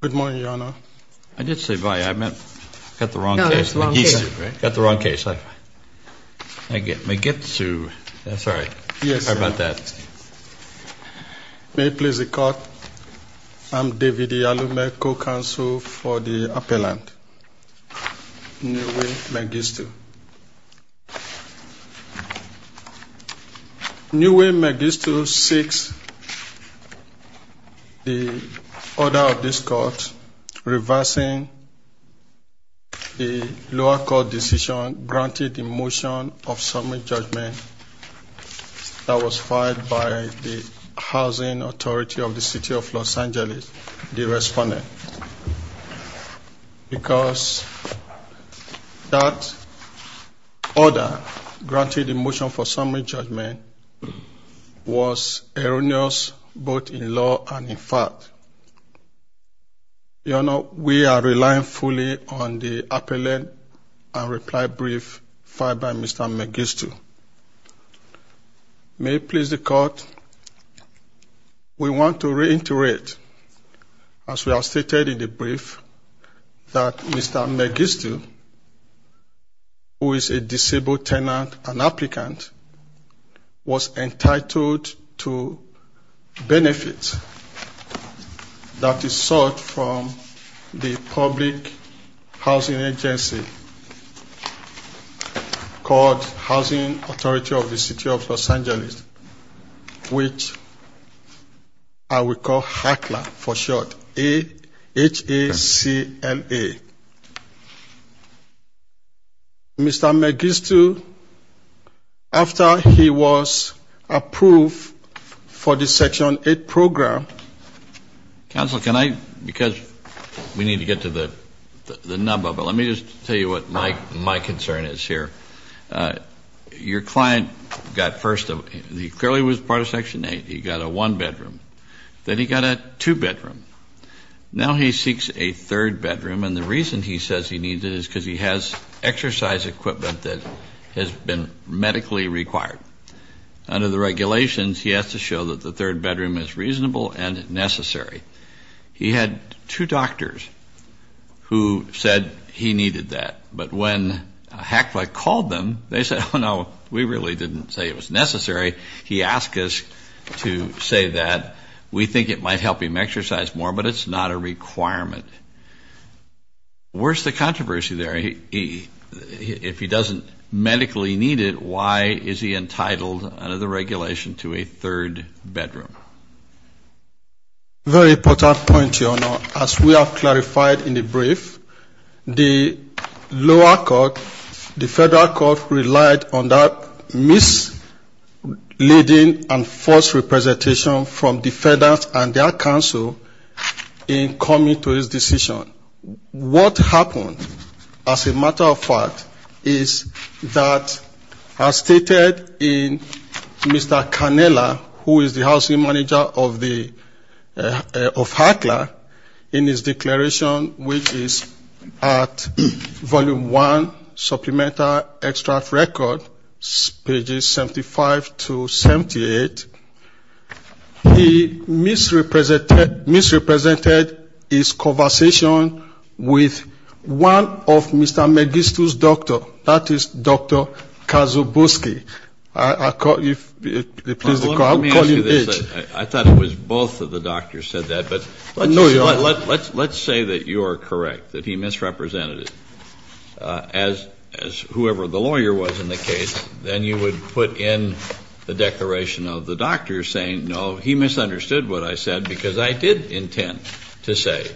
Good morning, Your Honor. I did say bye. I got the wrong case. No, that's the wrong case. I got the wrong case. I get Mengistu. I'm sorry. Yes, sir. How about that? May it please the Court, I'm David Yalume, co-counsel for the appellant, Neway Mengistu. Neway Mengistu seeks the order of this Court reversing the lower court decision granted in motion of summit judgment that was filed by the Housing Authority of the City of Los Angeles, the respondent. Because that order granted in motion for summit judgment was erroneous both in law and in fact. Your Honor, we are relying fully on the appellant and reply brief filed by Mr. Mengistu. May it please the Court, we want to reiterate, as we have stated in the brief, that Mr. Mengistu, who is a disabled tenant and applicant, was entitled to benefits that is sought from the public housing agency called Housing Authority of the City of Los Angeles, which I will call HACLA for short, H-A-C-L-A. Mr. Mengistu, after he was approved for the Section 8 program. Counsel, can I, because we need to get to the number, but let me just tell you what my concern is here. Your client got first, he clearly was part of Section 8, he got a one bedroom. Then he got a two bedroom. Now he seeks a third bedroom and the reason he says he needs it is because he has exercise equipment that has been medically required. Under the regulations, he has to show that the third bedroom is reasonable and necessary. He had two doctors who said he needed that. But when HACLA called them, they said, oh no, we really didn't say it was necessary. He asked us to say that. We think it might help him exercise more, but it's not a requirement. Where's the controversy there? If he doesn't medically need it, why is he entitled under the regulation to a third bedroom? Very important point, Your Honor. As we have clarified in the brief, the lower court, the federal court relied on that misleading and false representation from the feds and their counsel in coming to this decision. What happened, as a matter of fact, is that as stated in Mr. Cannella, who is the housing manager of HACLA, in his declaration, which is at Volume 1, Supplemental Extract Record, pages 75 to 78, he misrepresented his conversation with one of Mr. Magistu's doctors, that is Dr. Kazuboski. Let me ask you this. I thought it was both of the doctors said that, but let's say that you are correct, that he misrepresented it. As whoever the lawyer was in the case, then you would put in the declaration of the doctor saying, no, he misunderstood what I said because I did intend to say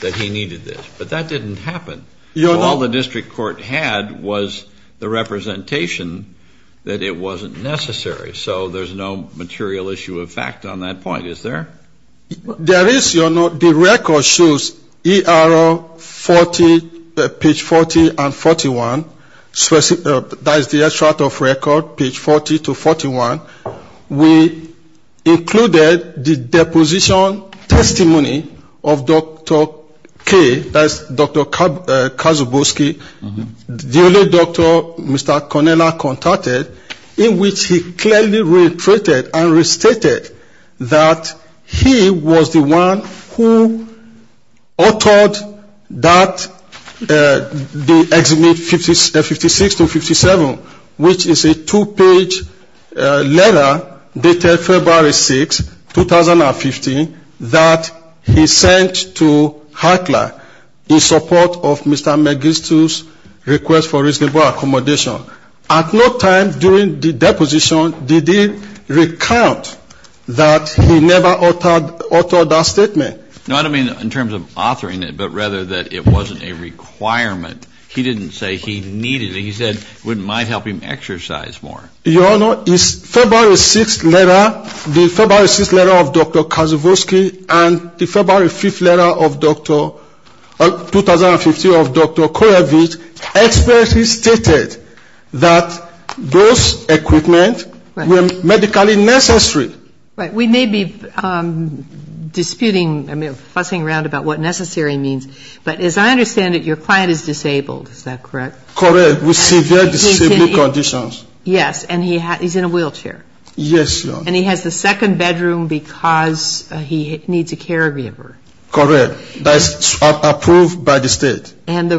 that he needed this. But that didn't happen. All the district court had was the representation that it wasn't necessary. So there's no material issue of fact on that point, is there? When the record shows ERO 40, page 40 and 41, that is the extract of record, page 40 to 41, we included the deposition testimony of Dr. K, that is Dr. Kazuboski, the only doctor Mr. Konella contacted, in which he clearly reiterated and restated that he was the one who authored that Exhibit 56 to 57, which is a two-page letter dated February 6, 2015, that he sent to Hartler in support of Mr. Magistu's request for reasonable accommodation. At no time during the deposition did he recount that he never authored that statement. No, I don't mean in terms of authoring it, but rather that it wasn't a requirement. He didn't say he needed it. He said it might help him exercise more. Your Honor, his February 6th letter, the February 6th letter of Dr. Kazuboski and the February 5th letter of 2015 of Dr. Kurevich expertly stated that those equipment were medically necessary. We may be disputing, fussing around about what necessary means, but as I understand it, your client is disabled, is that correct? Correct. With severe disability conditions. Yes. And he's in a wheelchair. Yes, Your Honor. And he has the second bedroom because he needs a caregiver. Correct. That's approved by the State. And the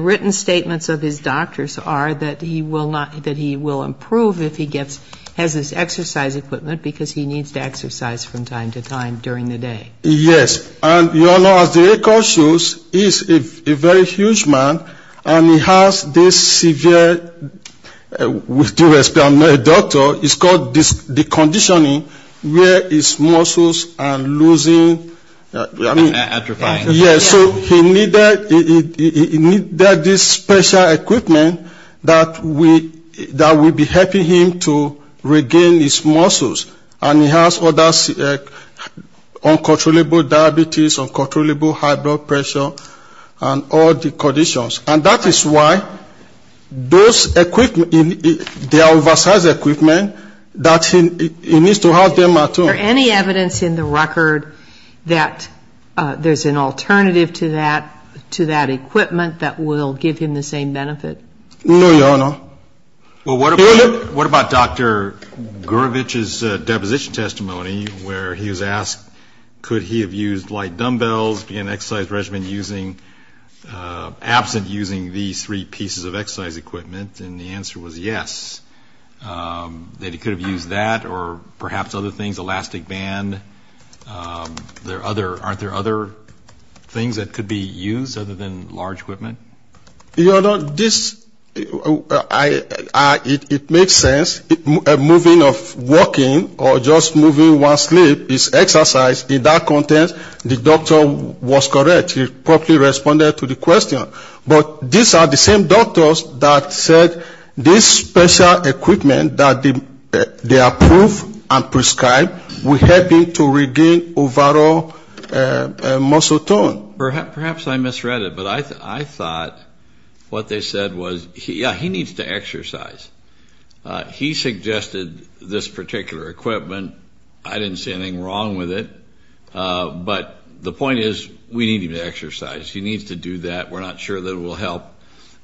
written statements of his doctors are that he will improve if he has this exercise equipment because he needs to exercise from time to time during the day. Yes. And your Honor, as the record shows, he's a very huge man, and he has this severe, with due respect, I'm not a doctor, it's called deconditioning where his muscles are losing. Atrophying. Yes, so he needed this special equipment that will be helping him to regain his muscles. And he has other uncontrollable diabetes, uncontrollable high blood pressure, and all the conditions. And that is why those equipment, the exercise equipment, that he needs to have them at home. Is there any evidence in the record that there's an alternative to that, to that equipment that will give him the same benefit? No, Your Honor. Well, what about Dr. Gurevich's deposition testimony where he was asked could he have used light dumbbells, began exercise regimen using, absent using these three pieces of exercise equipment, and the answer was yes. That he could have used that or perhaps other things, elastic band. Aren't there other things that could be used other than large equipment? Your Honor, this, it makes sense. A moving of walking or just moving one slip is exercise. In that context, the doctor was correct. He properly responded to the question. But these are the same doctors that said this special equipment that they approved and prescribed will help him to regain overall muscle tone. Perhaps I misread it, but I thought what they said was, yeah, he needs to exercise. He suggested this particular equipment. I didn't see anything wrong with it. We're not sure that it will help.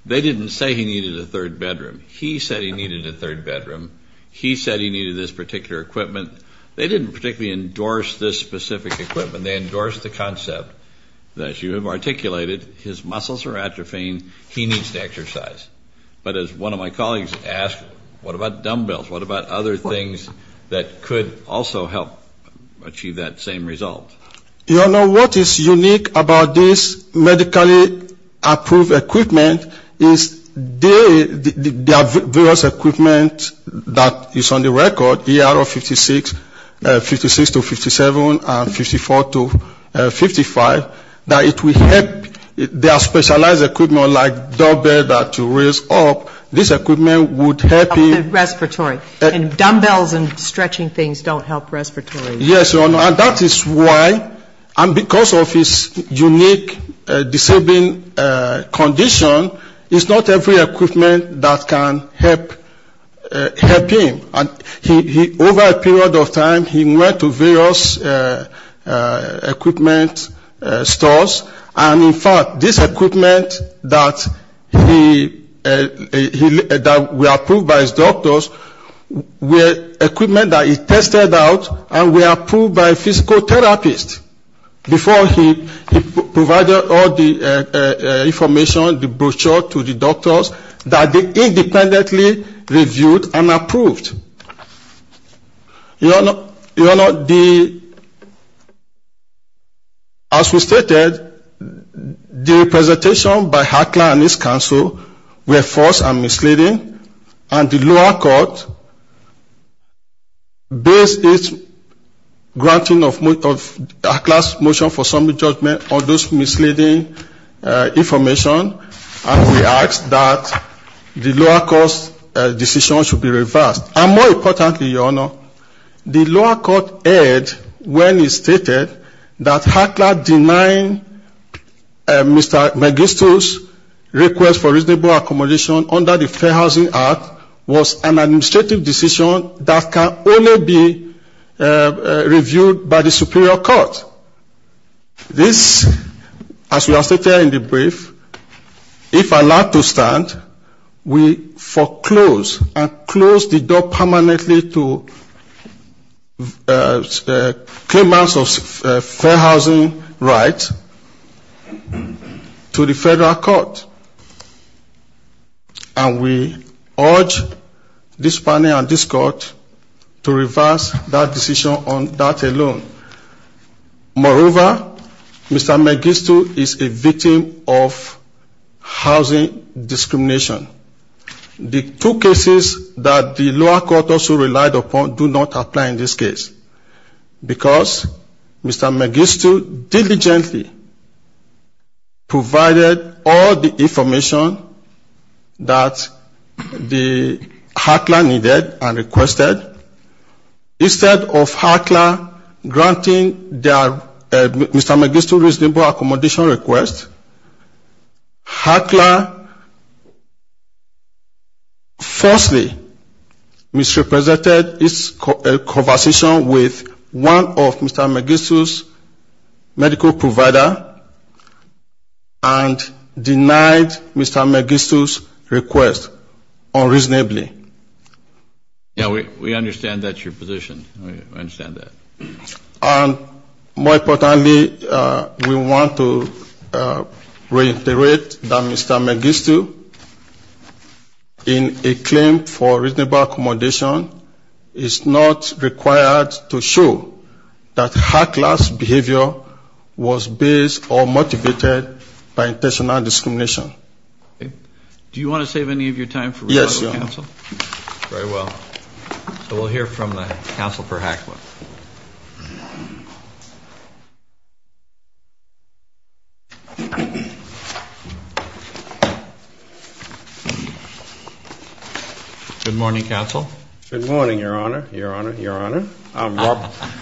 They didn't say he needed a third bedroom. He said he needed a third bedroom. He said he needed this particular equipment. They didn't particularly endorse this specific equipment. They endorsed the concept that, as you have articulated, his muscles are atrophying. He needs to exercise. But as one of my colleagues asked, what about dumbbells? What about other things that could also help achieve that same result? Your Honor, what is unique about this medically approved equipment is there are various equipment that is on the record, ERO 56, 56 to 57, and 54 to 55, that it will help. There are specialized equipment like dumbbells to raise up. This equipment would help him. Respiratory. And dumbbells and stretching things don't help respiratory. Yes, Your Honor. And that is why and because of his unique disabling condition, it's not every equipment that can help him. And over a period of time, he went to various equipment stores. And, in fact, this equipment that we approved by his doctors, equipment that he tested out, and we approved by a physical therapist before he provided all the information, the brochure to the doctors, that they independently reviewed and approved. Your Honor, as we stated, the presentation by HACLA and its counsel were false and misleading, and the lower court based its granting of HACLA's motion for summary judgment on this misleading information, and we asked that the lower court's decision should be reversed. And more importantly, Your Honor, the lower court erred when it stated that HACLA denying Mr. Magistro's request for reasonable accommodation under the Fair Housing Act was an administrative decision that can only be reviewed by the superior court. This, as we have stated in the brief, if allowed to stand, we foreclose and close the door permanently to claimants of fair housing rights to the federal court. And we urge this panel and this court to reverse that decision on that alone. Moreover, Mr. Magistro is a victim of housing discrimination. The two cases that the lower court also relied upon do not apply in this case, because Mr. Magistro diligently provided all the information that HACLA needed and requested. Instead of HACLA granting Mr. Magistro's reasonable accommodation request, HACLA falsely misrepresented its conversation with one of Mr. Magistro's medical providers and denied Mr. Magistro's request unreasonably. Yeah, we understand that's your position. We understand that. And more importantly, we want to reiterate that Mr. Magistro, in a claim for reasonable accommodation, is not required to show that HACLA's behavior was based or motivated by intentional discrimination. Do you want to save any of your time for rebuttal, counsel? Yes, Your Honor. Very well. So we'll hear from the counsel for HACLA. Good morning, counsel. Good morning, Your Honor. Your Honor. Your Honor.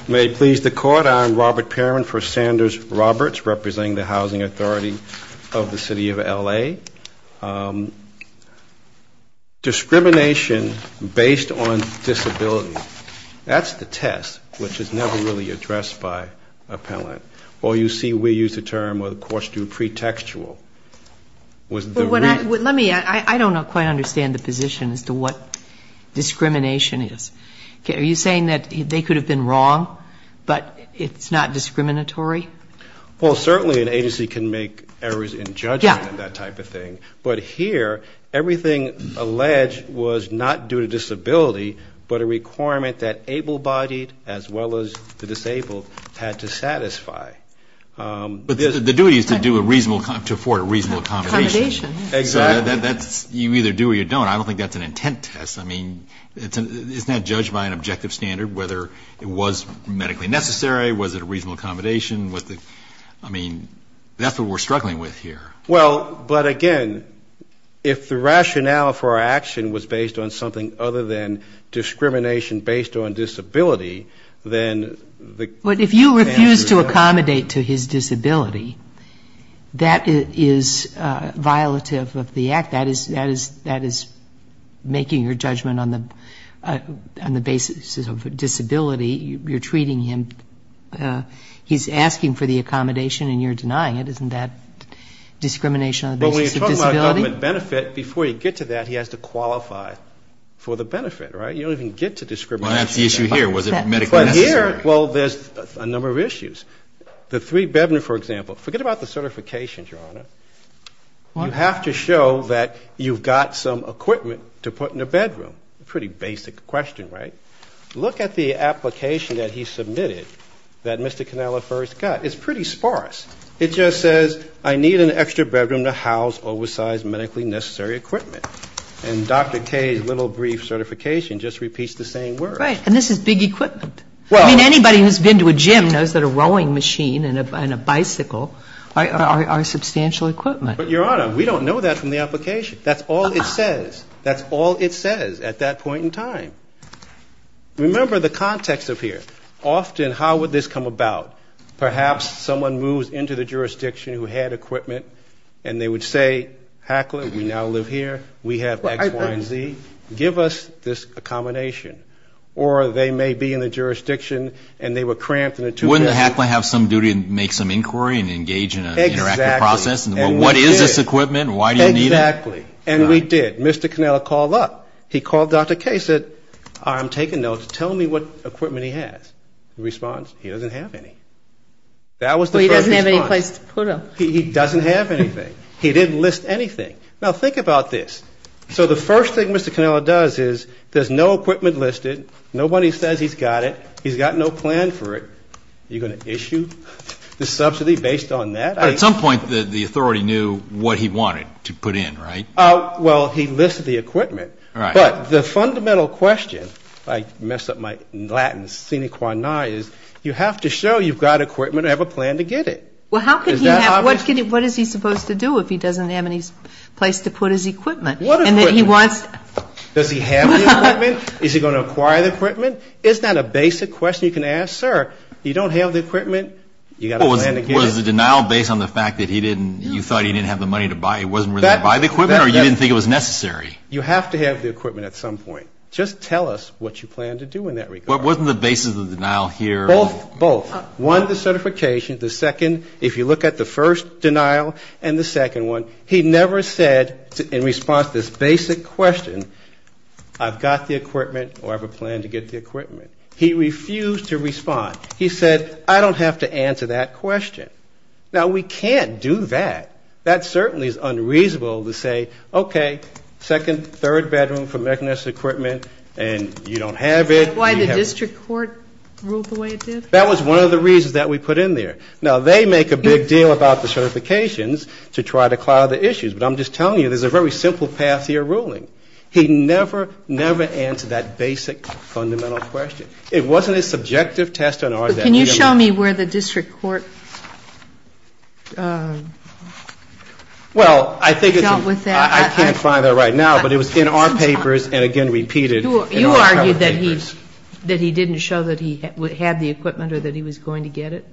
May it please the court, I am Robert Pearman for Sanders Roberts, representing the housing authority of the city of L.A. Discrimination based on disability, that's the test, which is never really addressed by appellant. Or you see we use the term, or the courts do, pretextual. Let me, I don't quite understand the position as to what discrimination is. Are you saying that they could have been wrong, but it's not discriminatory? Well, certainly an agency can make errors in judgment and that type of thing. But here, everything alleged was not due to disability, but a requirement that able-bodied as well as the disabled had to satisfy. But the duty is to do a reasonable, to afford a reasonable accommodation. Exactly. You either do or you don't. I don't think that's an intent test. I mean, it's not judged by an objective standard whether it was medically necessary, was it a reasonable accommodation. I mean, that's what we're struggling with here. Well, but again, if the rationale for our action was based on something other than discrimination based on disability, then the answer is yes. But if you refuse to accommodate to his disability, that is violative of the act. That is making your judgment on the basis of disability. You're treating him, he's asking for the accommodation and you're denying it. Isn't that discrimination on the basis of disability? Well, when you talk about government benefit, before you get to that, he has to qualify for the benefit, right? You don't even get to discrimination. Well, that's the issue here. Was it medically necessary? Well, here, well, there's a number of issues. The three bedroom, for example, forget about the certifications, Your Honor. You have to show that you've got some equipment to put in a bedroom. Pretty basic question, right? Look at the application that he submitted that Mr. Cannella first got. It's pretty sparse. It just says, I need an extra bedroom to house oversized medically necessary equipment. And Dr. Kaye's little brief certification just repeats the same words. Right. And this is big equipment. I mean, anybody who's been to a gym knows that a rowing machine and a bicycle are substantial equipment. But, Your Honor, we don't know that from the application. That's all it says. That's all it says at that point in time. Remember the context up here. Often, how would this come about? Perhaps someone moves into the jurisdiction who had equipment and they would say, Hackler, we now live here. We have X, Y, and Z. Give us this accommodation. Or they may be in the jurisdiction and they were cramped in a two-bedroom. Wouldn't the hackler have some duty to make some inquiry and engage in an interactive process? Exactly. What is this equipment? Why do you need it? Exactly. And we did. Mr. Cannella called up. He called Dr. Kaye, said, I'm taking notes. Tell me what equipment he has. He responds, he doesn't have any. That was the first response. Well, he doesn't have any place to put them. He doesn't have anything. He didn't list anything. Now, think about this. So the first thing Mr. Cannella does is there's no equipment listed. Nobody says he's got it. He's got no plan for it. You're going to issue the subsidy based on that? At some point, the authority knew what he wanted to put in, right? Well, he listed the equipment. All right. But the fundamental question, I messed up my Latin, sine qua non, is you have to show you've got equipment and have a plan to get it. Well, how could he have ñ what is he supposed to do if he doesn't have any place to put his equipment? What equipment? And that he wants ñ Does he have the equipment? Is he going to acquire the equipment? Isn't that a basic question you can ask? Sir, you don't have the equipment, you've got a plan to get it. Was the denial based on the fact that he didn't ñ you thought he didn't have the money to buy it, wasn't willing to buy the equipment, or you didn't think it was necessary? You have to have the equipment at some point. Just tell us what you plan to do in that regard. Wasn't the basis of the denial here ñ Both. One, the certification. The second, if you look at the first denial and the second one, he never said in response to this basic question, I've got the equipment or I have a plan to get the equipment. He refused to respond. He said, I don't have to answer that question. Now, we can't do that. That certainly is unreasonable to say, okay, second, third bedroom for medical necessary equipment and you don't have it. Is that why the district court ruled the way it did? That was one of the reasons that we put in there. Now, they make a big deal about the certifications to try to cloud the issues, but I'm just telling you there's a very simple path to your ruling. He never, never answered that basic fundamental question. It wasn't a subjective test on our ñ Can you show me where the district court dealt with that? I can't find that right now, but it was in our papers and, again, repeated. You argued that he didn't show that he had the equipment or that he was going to get it?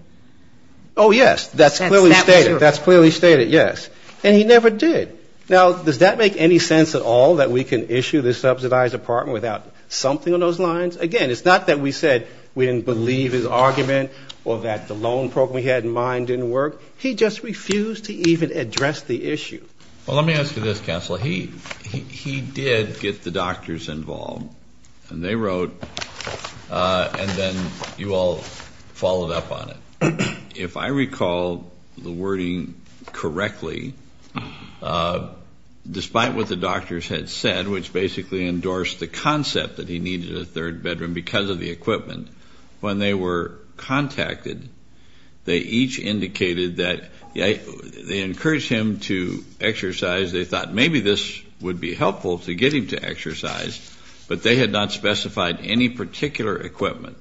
Oh, yes. That's clearly stated. That's clearly stated, yes. And he never did. Now, does that make any sense at all, that we can issue this subsidized apartment without something on those lines? Again, it's not that we said we didn't believe his argument or that the loan program he had in mind didn't work. He just refused to even address the issue. Well, let me ask you this, counsel. He did get the doctors involved, and they wrote, and then you all followed up on it. If I recall the wording correctly, despite what the doctors had said, which basically endorsed the concept that he needed a third bedroom because of the equipment, when they were contacted, they each indicated that they encouraged him to exercise. They thought maybe this would be helpful to get him to exercise, but they had not specified any particular equipment,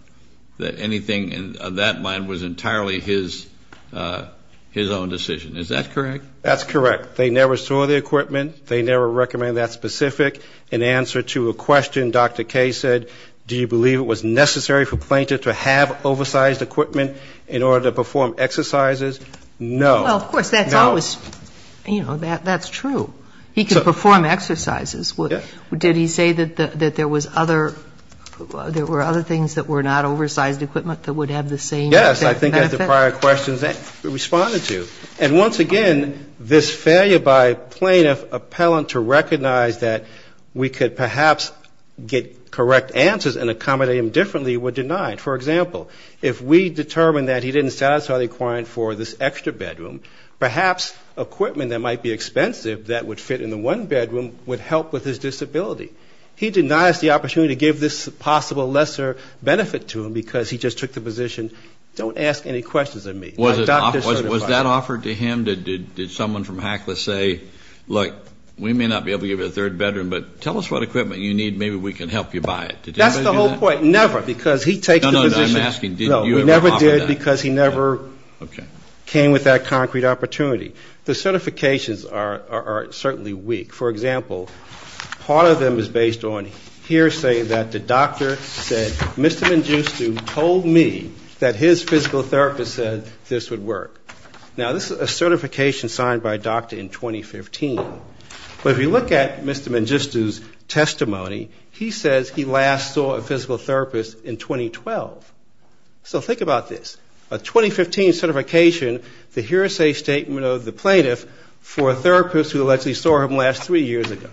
that anything on that line was entirely his own decision. Is that correct? That's correct. They never saw the equipment. They never recommended that specific. In answer to a question, Dr. Kaye said, do you believe it was necessary for a plaintiff to have oversized equipment in order to perform exercises? No. Well, of course, that's always, you know, that's true. He could perform exercises. Did he say that there was other, there were other things that were not oversized equipment that would have the same effect? Yes, I think that's the prior question that he responded to. And once again, this failure by plaintiff appellant to recognize that we could perhaps get correct answers and accommodate him differently were denied. For example, if we determined that he didn't satisfy the requirement for this extra bedroom, perhaps equipment that might be expensive that would fit in the one bedroom would help with his disability. He denies the opportunity to give this possible lesser benefit to him because he just took the position, don't ask any questions of me. Was that offered to him? Did someone from HACLA say, look, we may not be able to give you a third bedroom, but tell us what equipment you need, maybe we can help you buy it. That's the whole point. Never, because he takes the position. No, we never did because he never came with that concrete opportunity. The certifications are certainly weak. For example, part of them is based on hearsay that the doctor said, Mr. Mangistu told me that his physical therapist said this would work. Now, this is a certification signed by a doctor in 2015. But if you look at Mr. Mangistu's testimony, he says he last saw a physical therapist in 2012. So think about this. A 2015 certification, the hearsay statement of the plaintiff for a therapist who allegedly saw him last three years ago.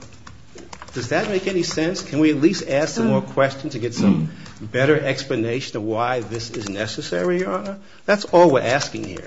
Does that make any sense? Can we at least ask some more questions to get some better explanation of why this is necessary, Your Honor? That's all we're asking here.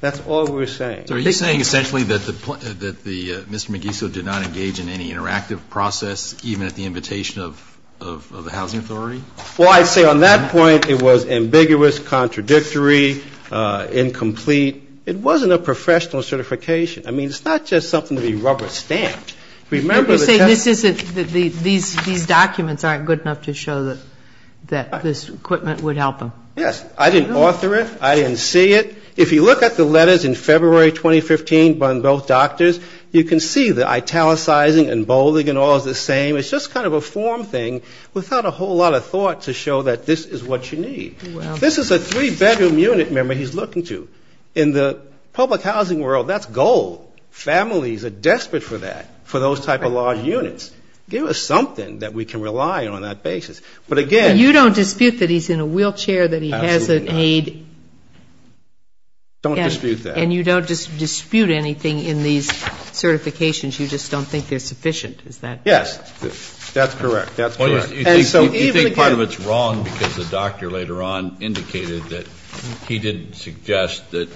That's all we're saying. So are you saying essentially that Mr. Mangistu did not engage in any interactive process, even at the invitation of the housing authority? Well, I'd say on that point it was ambiguous, contradictory, incomplete. It wasn't a professional certification. I mean, it's not just something to be rubber stamped. You're saying these documents aren't good enough to show that this equipment would help him. Yes. I didn't author it. I didn't see it. If you look at the letters in February 2015 from both doctors, you can see the italicizing and bolding and all is the same. It's just kind of a form thing without a whole lot of thought to show that this is what you need. This is a three-bedroom unit, remember, he's looking to. In the public housing world, that's gold. Families are desperate for that, for those type of large units. Give us something that we can rely on on that basis. But, again. You don't dispute that he's in a wheelchair, that he has an aid. Absolutely not. Don't dispute that. And you don't dispute anything in these certifications. You just don't think they're sufficient, is that correct? Yes. That's correct. That's correct. You think part of it's wrong because the doctor later on indicated that he didn't suggest that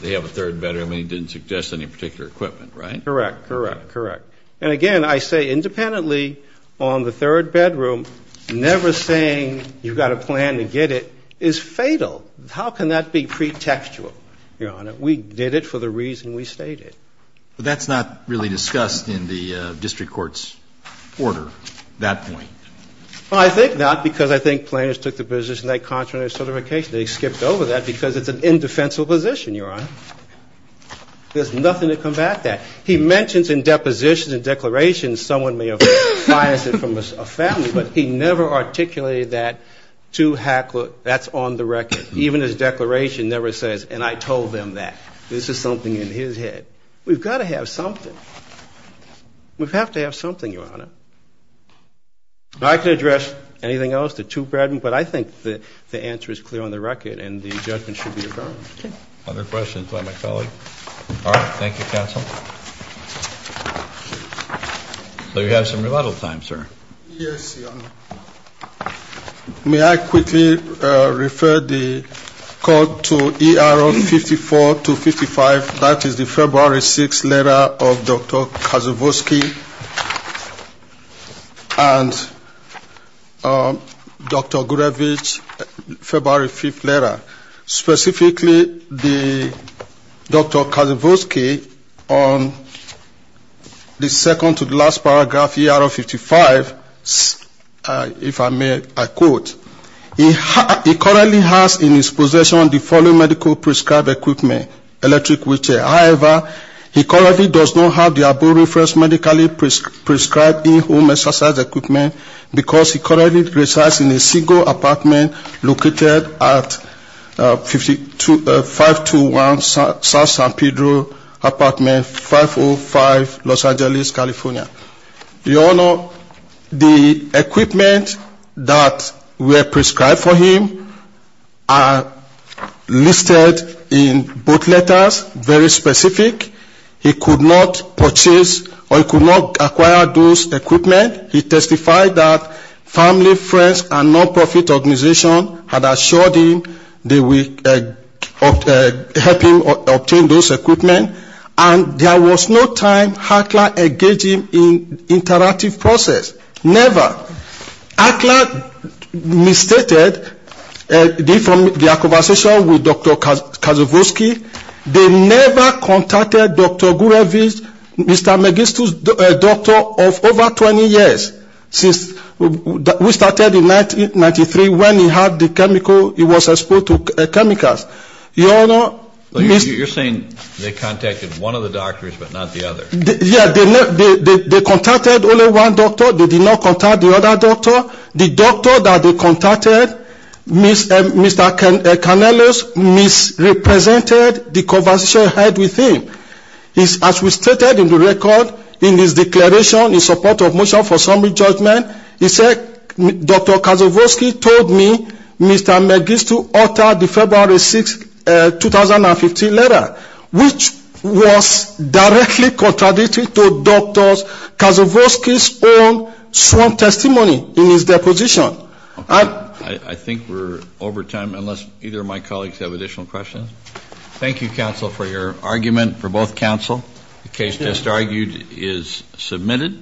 they have a third bedroom and he didn't suggest any particular equipment, right? Correct. Correct. Correct. And, again, I say independently on the third bedroom, never saying you've got to plan to get it is fatal. How can that be pretextual, Your Honor? We did it for the reason we stated. But that's not really discussed in the district court's order at that point. Well, I think not because I think planners took the position that contrary to certification, they skipped over that because it's an indefensible position, Your Honor. There's nothing to combat that. He mentions in depositions and declarations someone may have biased it from a family, but he never articulated that to Hackler. That's on the record. Even his declaration never says, and I told them that. This is something in his head. We've got to have something. We have to have something, Your Honor. I can address anything else, the two bedrooms, but I think the answer is clear on the record and the judgment should be affirmed. Okay. Other questions by my colleague? All right. Thank you, counsel. So you have some rebuttal time, sir. Yes, Your Honor. May I quickly refer the court to ERO 54255? That is the February 6th letter of Dr. Kaczewski and Dr. Gurevich, February 5th letter. Specifically, Dr. Kaczewski, on the second to the last paragraph, ERO 55, if I may, I quote, He currently has in his possession the following medical prescribed equipment, electric wheelchair. However, he currently does not have the above-referenced medically prescribed in-home exercise equipment because he currently resides in a single apartment located at 521 South San Pedro Apartment, 505 Los Angeles, California. Your Honor, the equipment that were prescribed for him are listed in both letters, very specific. He could not purchase or he could not acquire those equipment. He testified that family, friends, and non-profit organization had assured him they would help him obtain those equipment. And there was no time Hakla engaged him in interactive process, never. Hakla misstated their conversation with Dr. Kaczewski. They never contacted Dr. Gurevich, Mr. Magistro's doctor of over 20 years. We started in 1993 when he had the chemical, he was exposed to chemicals. You're saying they contacted one of the doctors but not the other. Yeah, they contacted only one doctor, they did not contact the other doctor. The doctor that they contacted, Mr. Canellos, misrepresented the conversation he had with him. As we stated in the record, in his declaration in support of motion for summary judgment, he said Dr. Kaczewski told me Mr. Magistro authored the February 6, 2015 letter, which was directly contradicting to Dr. Kaczewski's own sworn testimony in his deposition. I think we're over time unless either of my colleagues have additional questions. Thank you, counsel, for your argument for both counsel. The case just argued is submitted.